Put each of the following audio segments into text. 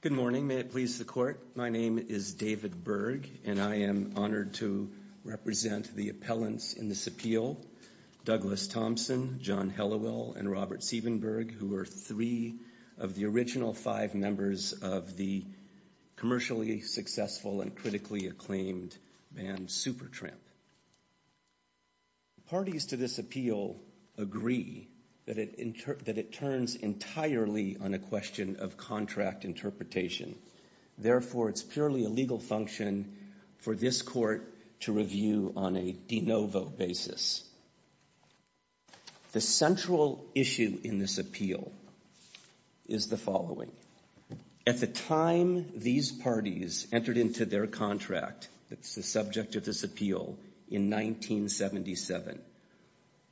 Good morning. May it please the Court, my name is David Berg and I am honored to represent the appellants in this appeal, Douglas Thompson, John Hellowell, and Robert Siebenberg, who are three of the original five members of the commercially successful and critically acclaimed band Supertramp. Parties to this appeal agree that it turns entirely on a question of contract interpretation. Therefore, it's purely a legal function for this Court to review on a de novo basis. The central issue in this appeal is the following. At the time these parties entered into their contract, that's the subject of this appeal, in 1977,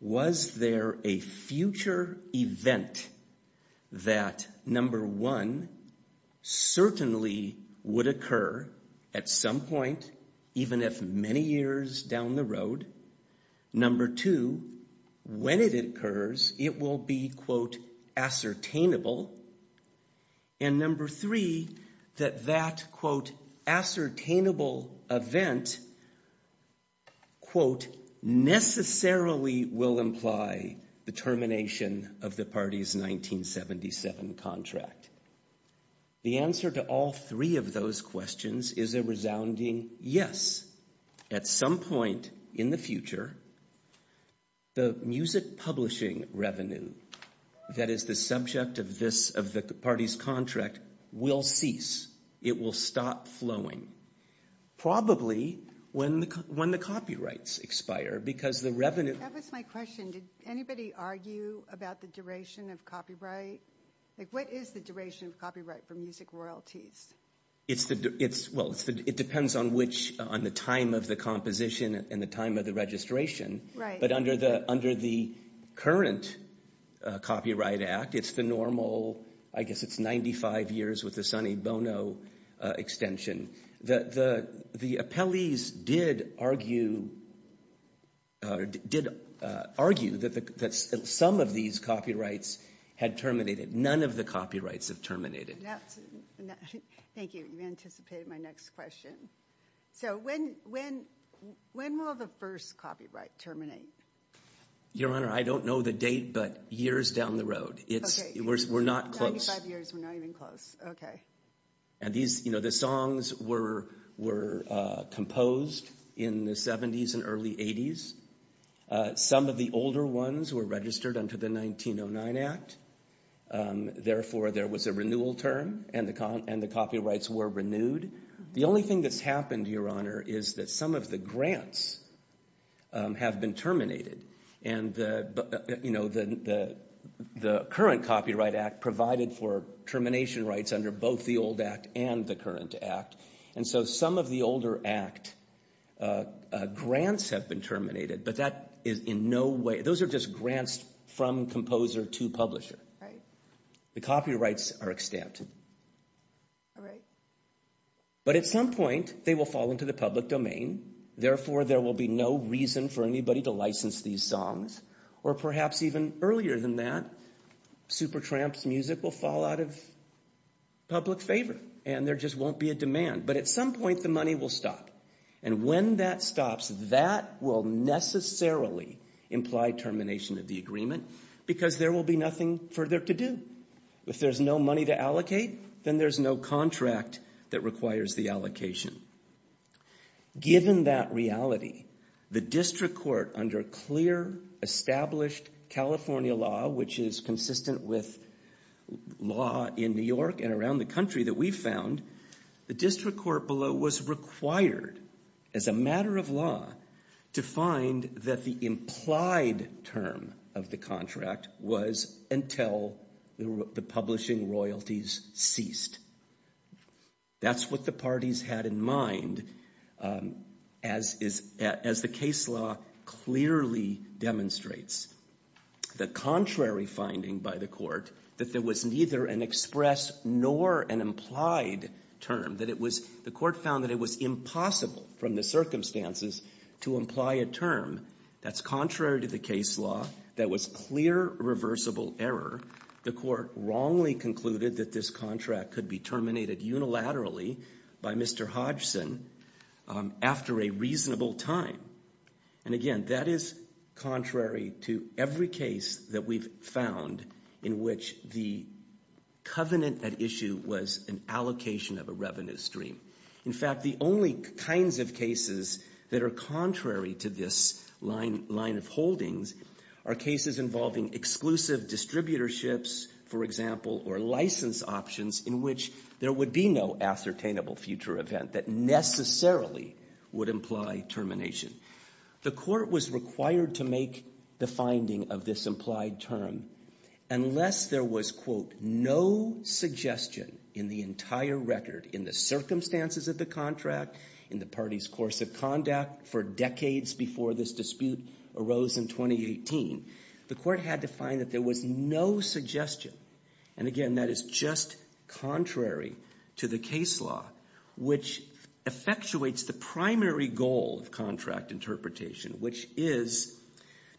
was there a future event that, number one, certainly would occur at some point, even if many years down the road? Number two, when it occurs, it will be, quote, ascertainable. And number three, that that, quote, ascertainable event, quote, necessarily will imply the termination of the party's 1977 contract. The answer to all three of those questions is a resounding yes. At some point in the future, the music publishing revenue that is the subject of this, of the party's contract, will cease. It will stop flowing, probably when the copyrights expire, because the revenue- That was my question. Did anybody argue about the duration of copyright? Like, what is the duration of copyright for music royalties? Well, it depends on which, on the time of the composition and the time of the registration. But under the current Copyright Act, it's the normal, I guess it's 95 years with the Sonny Bono extension. Your Honor, I don't know the date, but years down the road. We're not close. And these, you know, the songs were composed in the 70s and early 80s. Some of the older ones were registered under the 1909 Act. Therefore, there was a renewal term, and the copyrights were renewed. The only thing that's happened, Your Honor, is that some of the grants have been terminated. And, you know, the current Copyright Act provided for termination rights under both the old Act and the current Act. And so some of the older Act grants have been terminated, but that is in no way, those are just grants from composer to publisher. The copyrights are extended. But at some point, they will fall into the public domain. Therefore, there will be no reason for anybody to license these songs. Or perhaps even earlier than that, Supertramp's music will fall out of public favor, and there just won't be a demand. But at some point, the money will stop. And when that stops, that will necessarily imply termination of the agreement, because there will be nothing further to do. If there's no money to allocate, then there's no contract that requires the allocation. Given that reality, the district court under clear, established California law, which is consistent with law in New York and around the country that we've found, the district court below was required as a matter of law to find that the implied term of the contract was until the publishing royalties ceased. That's what the parties had in mind, as the case law clearly demonstrates. The contrary finding by the court that there was neither an express nor an implied term, that it was, the court found that it was impossible from the circumstances to imply a term. That's contrary to the case law. That was clear, reversible error. The court wrongly concluded that this contract could be terminated unilaterally by Mr. Hodgson after a reasonable time. And again, that is contrary to every case that we've found in which the covenant at issue was an allocation of a revenue stream. In fact, the only kinds of cases that are contrary to this line of holdings are cases involving exclusive distributorships, for example, or license options in which there would be no ascertainable future event that necessarily would imply termination. The court was required to make the finding of this implied term unless there was, quote, no suggestion in the entire record in the circumstances of the contract, in the party's course of conduct for decades before this dispute arose in 2018. The court had to find that there was no suggestion. And again, that is just contrary to the case law, which effectuates the primary goal of contract interpretation, which is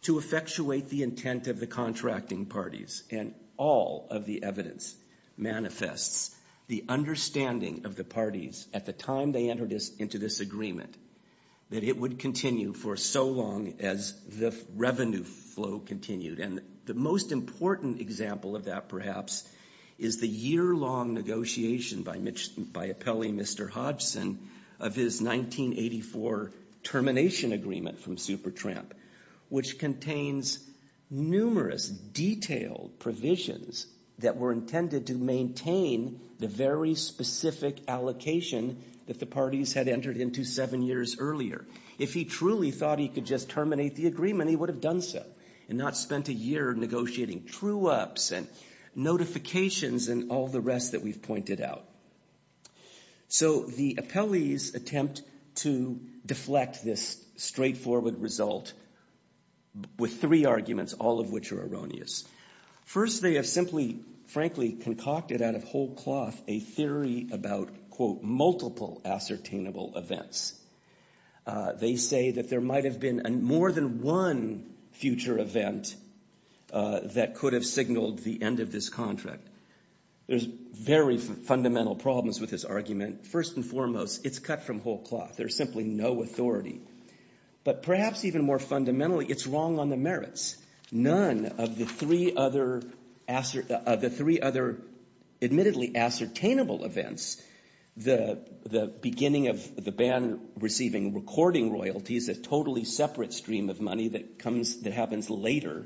to effectuate the intent of the contracting parties. And all of the evidence manifests the understanding of the parties at the time they entered into this agreement that it would continue for so long as the revenue flow continued. And the most important example of that, perhaps, is the year-long negotiation by appellee Mr. Hodgson of his 1984 termination agreement from Supertramp, which contains numerous detailed provisions that were intended to maintain the very specific allocation that the parties had entered into seven years earlier. If he truly thought he could just terminate the agreement, he would have done so and not spent a year negotiating true-ups and notifications and all the rest that we've pointed out. So the appellees attempt to deflect this straightforward result with three arguments, all of which are erroneous. First, they have simply, frankly, concocted out of whole cloth a theory about, quote, multiple ascertainable events. They say that there might have been more than one future event that could have signaled the end of this contract. There's very fundamental problems with this argument. First and foremost, it's cut from whole cloth. There's simply no authority. But perhaps even more fundamentally, it's wrong on the merits. None of the three other admittedly ascertainable events, the beginning of the band receiving recording royalties, a totally separate stream of money that happens later,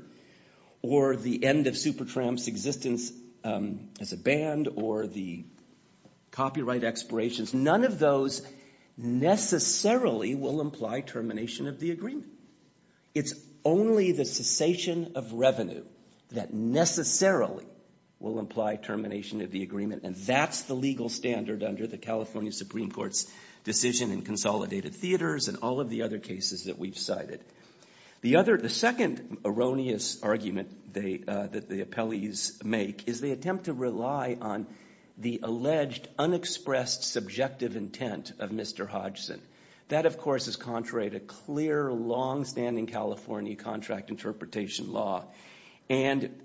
or the end of Supertramp's existence as a band or the copyright expirations, none of those necessarily will imply termination of the agreement. It's only the cessation of revenue that necessarily will imply termination of the agreement, and that's the legal standard under the California Supreme Court's decision in consolidated theaters and all of the other cases that we've cited. The second erroneous argument that the appellees make is they attempt to rely on the alleged unexpressed subjective intent of Mr. Hodgson. That, of course, is contrary to clear, longstanding California contract interpretation law. And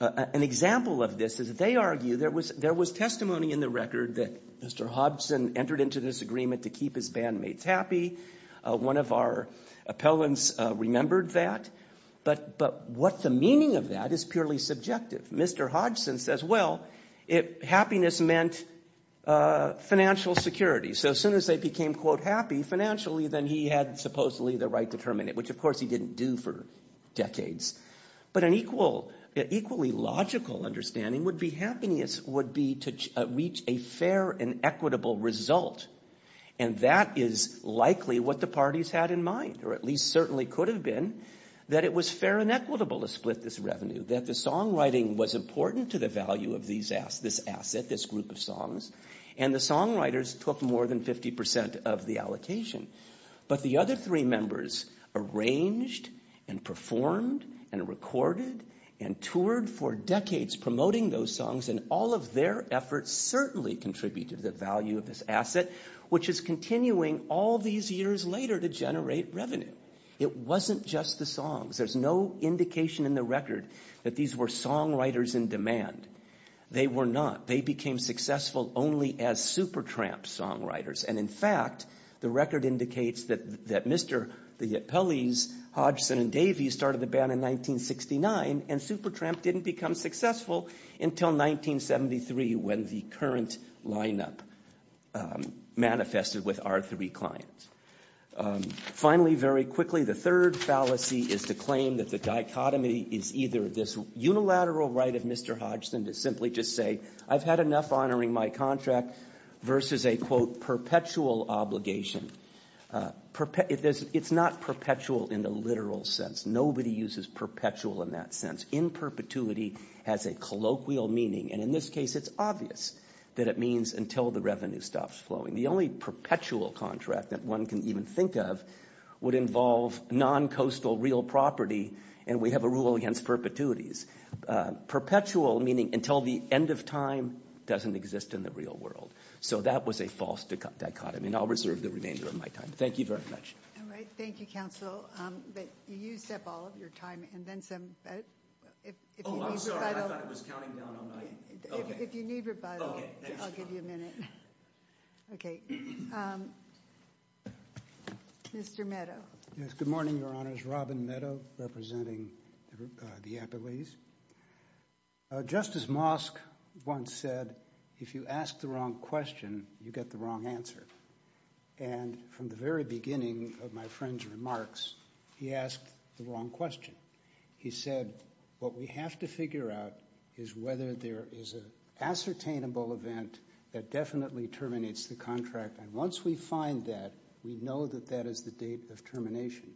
an example of this is they argue there was testimony in the record that Mr. Hodgson entered into this agreement to keep his bandmates happy. One of our appellants remembered that. But what the meaning of that is purely subjective. Mr. Hodgson says, well, happiness meant financial security. So as soon as they became, quote, happy financially, then he had supposedly the right to terminate, which of course he didn't do for decades. But an equally logical understanding would be happiness would be to reach a fair and equitable result. And that is likely what the parties had in mind, or at least certainly could have been, that it was fair and equitable to split this revenue, that the songwriting was important to the value of this asset, this group of songs. And the songwriters took more than 50 percent of the allocation. But the other three members arranged and performed and recorded and toured for decades promoting those songs. And all of their efforts certainly contributed to the value of this asset, which is continuing all these years later to generate revenue. It wasn't just the songs. There's no indication in the record that these were songwriters in demand. They were not. They became successful only as Supertramp songwriters. And, in fact, the record indicates that Mr. Pelley's, Hodgson, and Davey's started the band in 1969 and Supertramp didn't become successful until 1973 when the current lineup manifested with our three clients. Finally, very quickly, the third fallacy is to claim that the dichotomy is either this unilateral right of Mr. Hodgson to simply just say, I've had enough honoring my contract versus a, quote, perpetual obligation. It's not perpetual in the literal sense. Nobody uses perpetual in that sense. Imperpetuity has a colloquial meaning. And, in this case, it's obvious that it means until the revenue stops flowing. The only perpetual contract that one can even think of would involve non-coastal real property and we have a rule against perpetuities. Perpetual meaning until the end of time doesn't exist in the real world. So that was a false dichotomy. And I'll reserve the remainder of my time. Thank you very much. All right. Thank you, Counsel. You used up all of your time and then some. If you need rebuttal, I'll give you a minute. Okay. Mr. Meadow. Yes. Good morning, Your Honors. Robin Meadow representing the Appellees. Justice Mosk once said, if you ask the wrong question, you get the wrong answer. And from the very beginning of my friend's remarks, he asked the wrong question. He said, what we have to figure out is whether there is an ascertainable event that definitely terminates the contract. And once we find that, we know that that is the date of termination.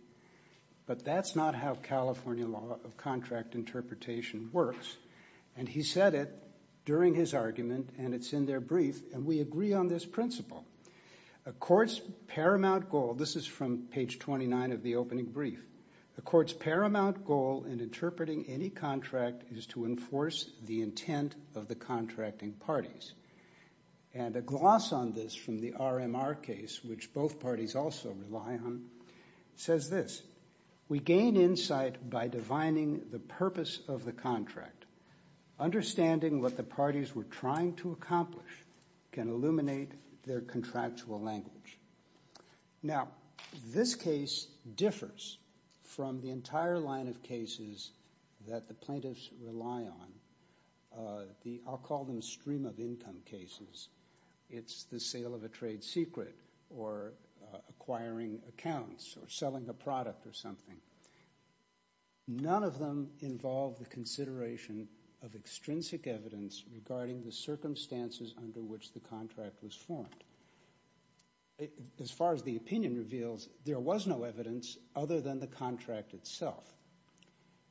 But that's not how California law of contract interpretation works. And he said it during his argument and it's in their brief and we agree on this principle. A court's paramount goal, this is from page 29 of the opening brief. A court's paramount goal in interpreting any contract is to enforce the intent of the contracting parties. And a gloss on this from the RMR case, which both parties also rely on, says this. We gain insight by divining the purpose of the contract. Understanding what the parties were trying to accomplish can illuminate their contractual language. Now, this case differs from the entire line of cases that the plaintiffs rely on. I'll call them stream of income cases. It's the sale of a trade secret or acquiring accounts or selling a product or something. None of them involve the consideration of extrinsic evidence regarding the circumstances under which the contract was formed. As far as the opinion reveals, there was no evidence other than the contract itself.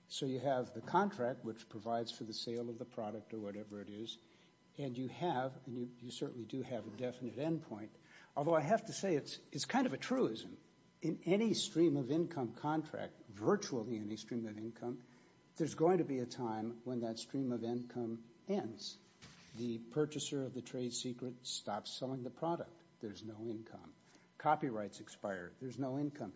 So you have the contract, which provides for the sale of the product or whatever it is, and you have and you certainly do have a definite end point. Although I have to say it's kind of a truism. In any stream of income contract, virtually any stream of income, there's going to be a time when that stream of income ends. The purchaser of the trade secret stops selling the product. There's no income. Copyrights expire. There's no income.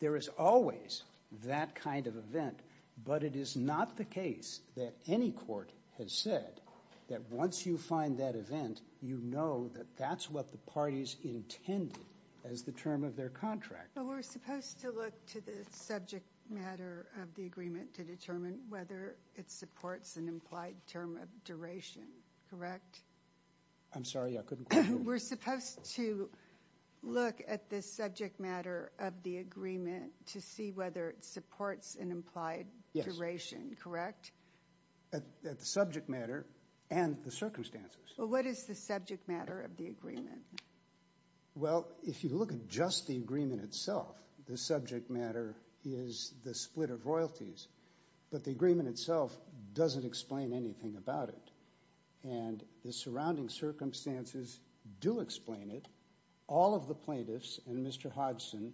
There is always that kind of event, but it is not the case that any court has said that once you find that event, you know that that's what the parties intended as the term of their contract. We're supposed to look to the subject matter of the agreement to determine whether it supports an implied term of duration, correct? I'm sorry, I couldn't hear you. We're supposed to look at the subject matter of the agreement to see whether it supports an implied duration, correct? At the subject matter and the circumstances. Well, what is the subject matter of the agreement? Well, if you look at just the agreement itself, the subject matter is the split of royalties, but the agreement itself doesn't explain anything about it. And the surrounding circumstances do explain it. All of the plaintiffs and Mr. Hodgson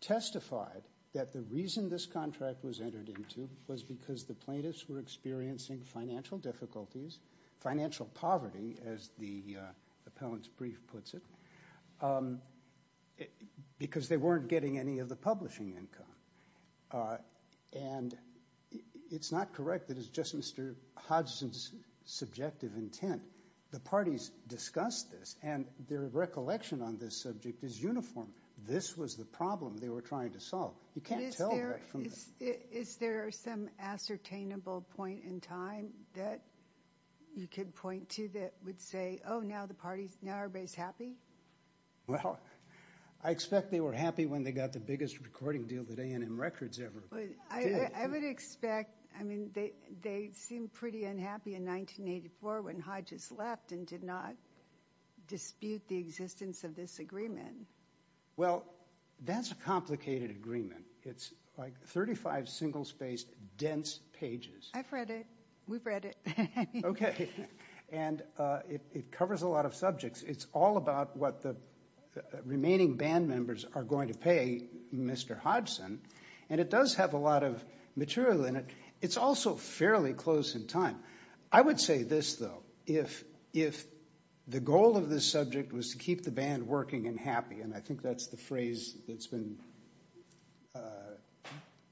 testified that the reason this contract was entered into was because the plaintiffs were experiencing financial difficulties, financial poverty, as the appellant's brief puts it, because they weren't getting any of the publishing income. And it's not correct that it's just Mr. Hodgson's subjective intent. The parties discussed this, and their recollection on this subject is uniform. This was the problem they were trying to solve. You can't tell that from the... Is there some ascertainable point in time that you could point to that would say, oh, now the parties, now everybody's happy? Well, I expect they were happy when they got the biggest recording deal that A&M Records ever did. I would expect, I mean, they seemed pretty unhappy in 1984 when Hodges left and did not dispute the existence of this agreement. Well, that's a complicated agreement. It's like 35 single-spaced, dense pages. I've read it. We've read it. Okay. And it covers a lot of subjects. It's all about what the remaining band members are going to pay Mr. Hodgson, and it does have a lot of material in it. It's also fairly close in time. I would say this, though. If the goal of this subject was to keep the band working and happy, and I think that's the phrase that's been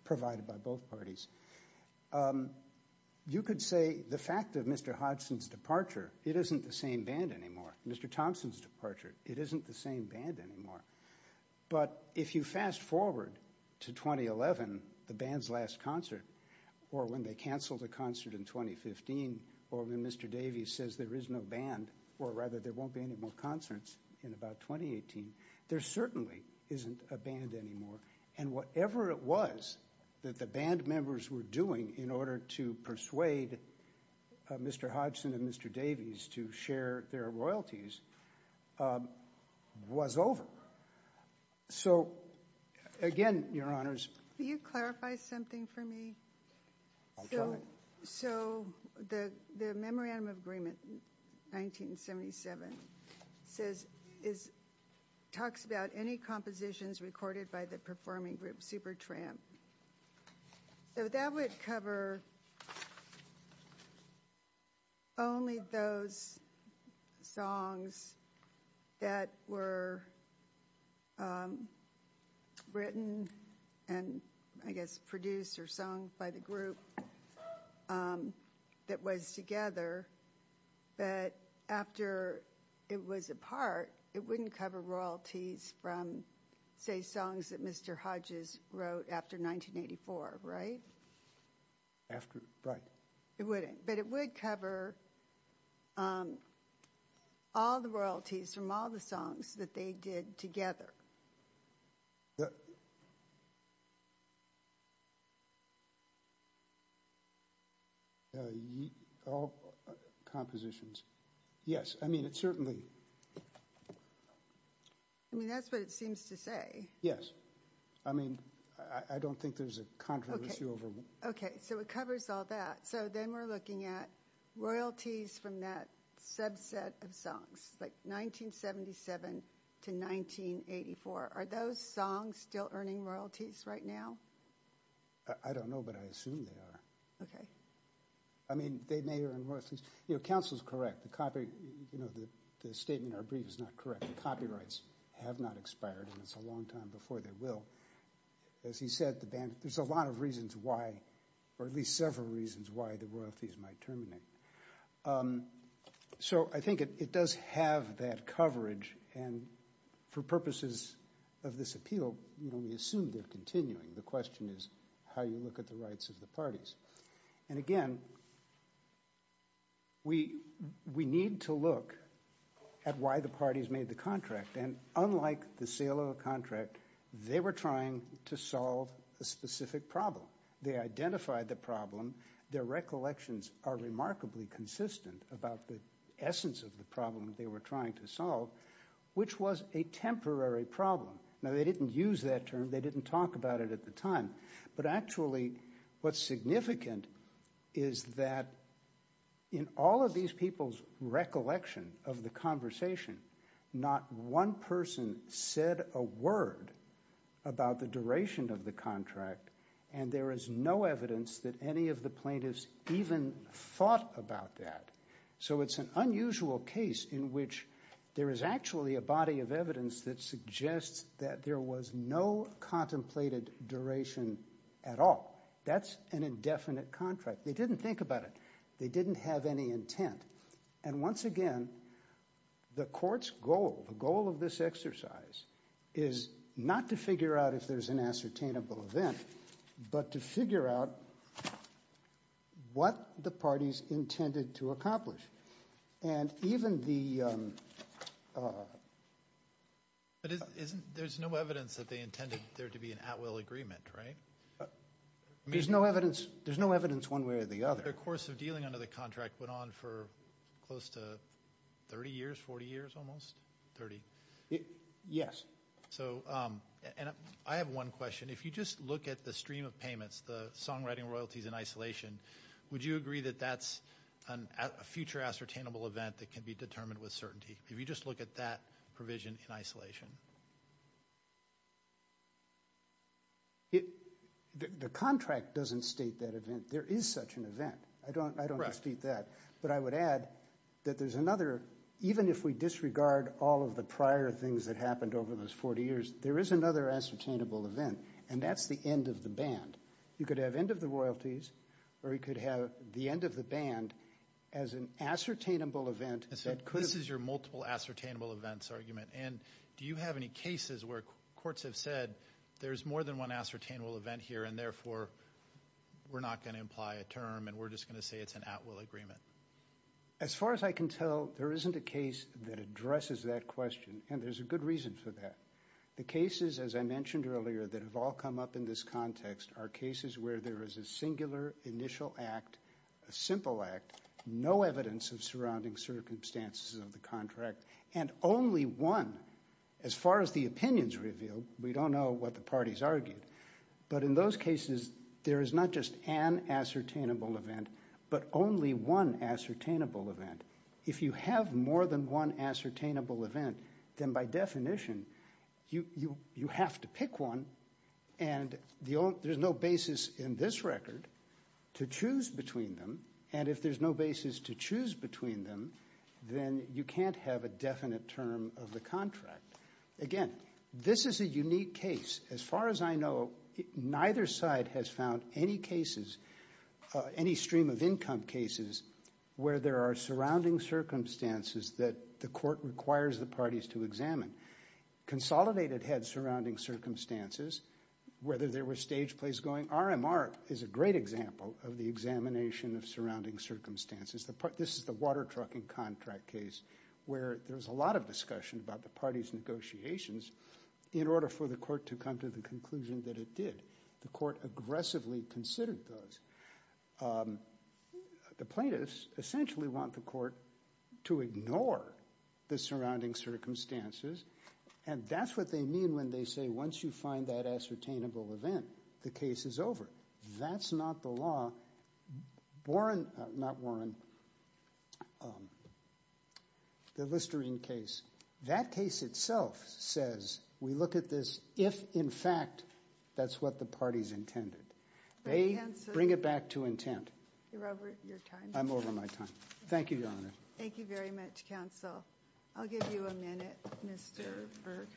provided by both parties, you could say the fact of Mr. Hodgson's departure, it isn't the same band anymore. Mr. Thompson's departure, it isn't the same band anymore. But if you fast-forward to 2011, the band's last concert, or when they canceled a concert in 2015, or when Mr. Davies says there is no band, or rather there won't be any more concerts in about 2018, there certainly isn't a band anymore. And whatever it was that the band members were doing in order to persuade Mr. Hodgson and Mr. Davies to share their royalties was over. So, again, Your Honors. Can you clarify something for me? I'll try. So the Memorandum of Agreement, 1977, talks about any compositions recorded by the performing group Supertramp. So that would cover only those songs that were written and, I guess, produced or sung by the group that was together. But after it was apart, it wouldn't cover royalties from, say, songs that Mr. Hodges wrote after 1984, right? Right. But it would cover all the royalties from all the songs that they did together. All compositions. Yes. I mean, it certainly... I mean, that's what it seems to say. Yes. I mean, I don't think there's a controversy over... Okay, so it covers all that. So then we're looking at royalties from that subset of songs, like 1977 to 1984. Are those songs still earning royalties right now? I don't know, but I assume they are. I mean, they may earn royalties. You know, counsel's correct. The statement in our brief is not correct. The copyrights have not expired, and it's a long time before they will. As he said, there's a lot of reasons why, or at least several reasons why, the royalties might terminate. So I think it does have that coverage, and for purposes of this appeal, we assume they're continuing. The question is how you look at the rights of the parties. And again, we need to look at why the parties made the contract. And unlike the sale of a contract, they were trying to solve a specific problem. They identified the problem. Their recollections are remarkably consistent about the essence of the problem they were trying to solve, which was a temporary problem. Now, they didn't use that term. They didn't talk about it at the time. But actually, what's significant is that in all of these people's recollection of the conversation, not one person said a word about the duration of the contract, and there is no evidence that any of the plaintiffs even thought about that. So it's an unusual case in which there is actually a body of evidence that suggests that there was no contemplated duration at all. That's an indefinite contract. They didn't think about it. They didn't have any intent. And once again, the court's goal, the goal of this exercise, is not to figure out if there's an ascertainable event, but to figure out what the parties intended to accomplish. And even the... But there's no evidence that they intended there to be an at-will agreement, right? There's no evidence one way or the other. The course of dealing under the contract went on for close to 30 years, 40 years almost, 30? Yes. So I have one question. If you just look at the stream of payments, the songwriting royalties in isolation, would you agree that that's a future ascertainable event that can be determined with certainty, if you just look at that provision in isolation? The contract doesn't state that event. There is such an event. I don't dispute that. But I would add that there's another, even if we disregard all of the prior things that happened over those 40 years, there is another ascertainable event, and that's the end of the band. You could have end of the royalties, or you could have the end of the band as an ascertainable event that could have... This is your multiple ascertainable events argument. And do you have any cases where courts have said there's more than one ascertainable event here, and therefore we're not going to imply a term and we're just going to say it's an at-will agreement? As far as I can tell, there isn't a case that addresses that question, and there's a good reason for that. The cases, as I mentioned earlier, that have all come up in this context are cases where there is a singular initial act, a simple act, no evidence of surrounding circumstances of the contract, and only one. As far as the opinions revealed, we don't know what the parties argued. But in those cases, there is not just an ascertainable event, but only one ascertainable event. If you have more than one ascertainable event, then by definition you have to pick one, and there's no basis in this record to choose between them. And if there's no basis to choose between them, then you can't have a definite term of the contract. Again, this is a unique case. As far as I know, neither side has found any cases, any stream of income cases, where there are surrounding circumstances that the court requires the parties to examine. Consolidated head surrounding circumstances, whether there were stage plays going, RMR is a great example of the examination of surrounding circumstances. This is the water trucking contract case where there was a lot of discussion about the parties' negotiations in order for the court to come to the conclusion that it did. The court aggressively considered those. The plaintiffs essentially want the court to ignore the surrounding circumstances, and that's what they mean when they say once you find that ascertainable event, the case is over. That's not the law. Warren, not Warren, the Listerine case, that case itself says we look at this if, in fact, that's what the parties intended. They bring it back to intent. You're over your time. I'm over my time. Thank you, Your Honor. Thank you very much, counsel. I'll give you a minute, Mr. Berg.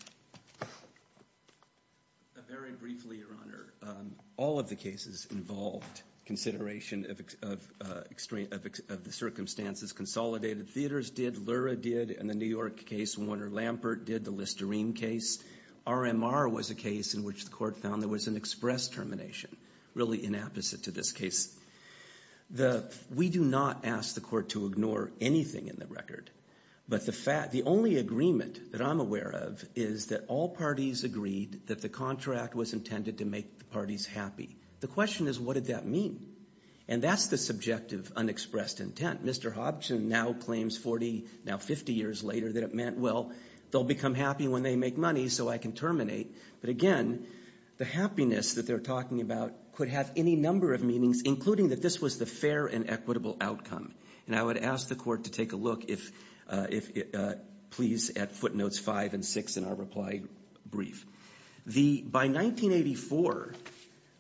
Very briefly, Your Honor, all of the cases involved consideration of the circumstances. Consolidated theaters did, Lura did, and the New York case, Warner-Lampert did, the Listerine case. RMR was a case in which the court found there was an express termination, really inapposite to this case. We do not ask the court to ignore anything in the record, but the only agreement that I'm aware of is that all parties agreed that the contract was intended to make the parties happy. The question is, what did that mean? And that's the subjective, unexpressed intent. Mr. Hobson now claims 40, now 50 years later, that it meant, well, they'll become happy when they make money so I can terminate. But, again, the happiness that they're talking about could have any number of meanings, including that this was the fair and equitable outcome. And I would ask the court to take a look, please, at footnotes five and six in our reply brief. By 1984,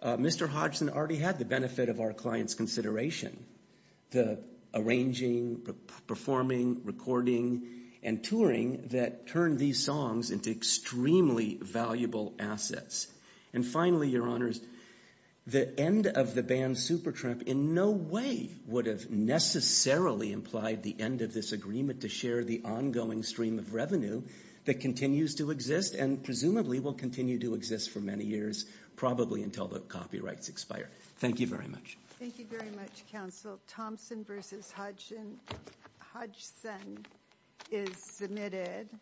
Mr. Hodgson already had the benefit of our client's consideration. The arranging, performing, recording, and touring that turned these songs into extremely valuable assets. And finally, your honors, the end of the ban, Super Trump, in no way would have necessarily implied the end of this agreement to share the ongoing stream of revenue that continues to exist and presumably will continue to exist for many years, probably until the copyrights expire. Thank you very much. Thank you very much, counsel. Thompson versus Hodgson is submitted.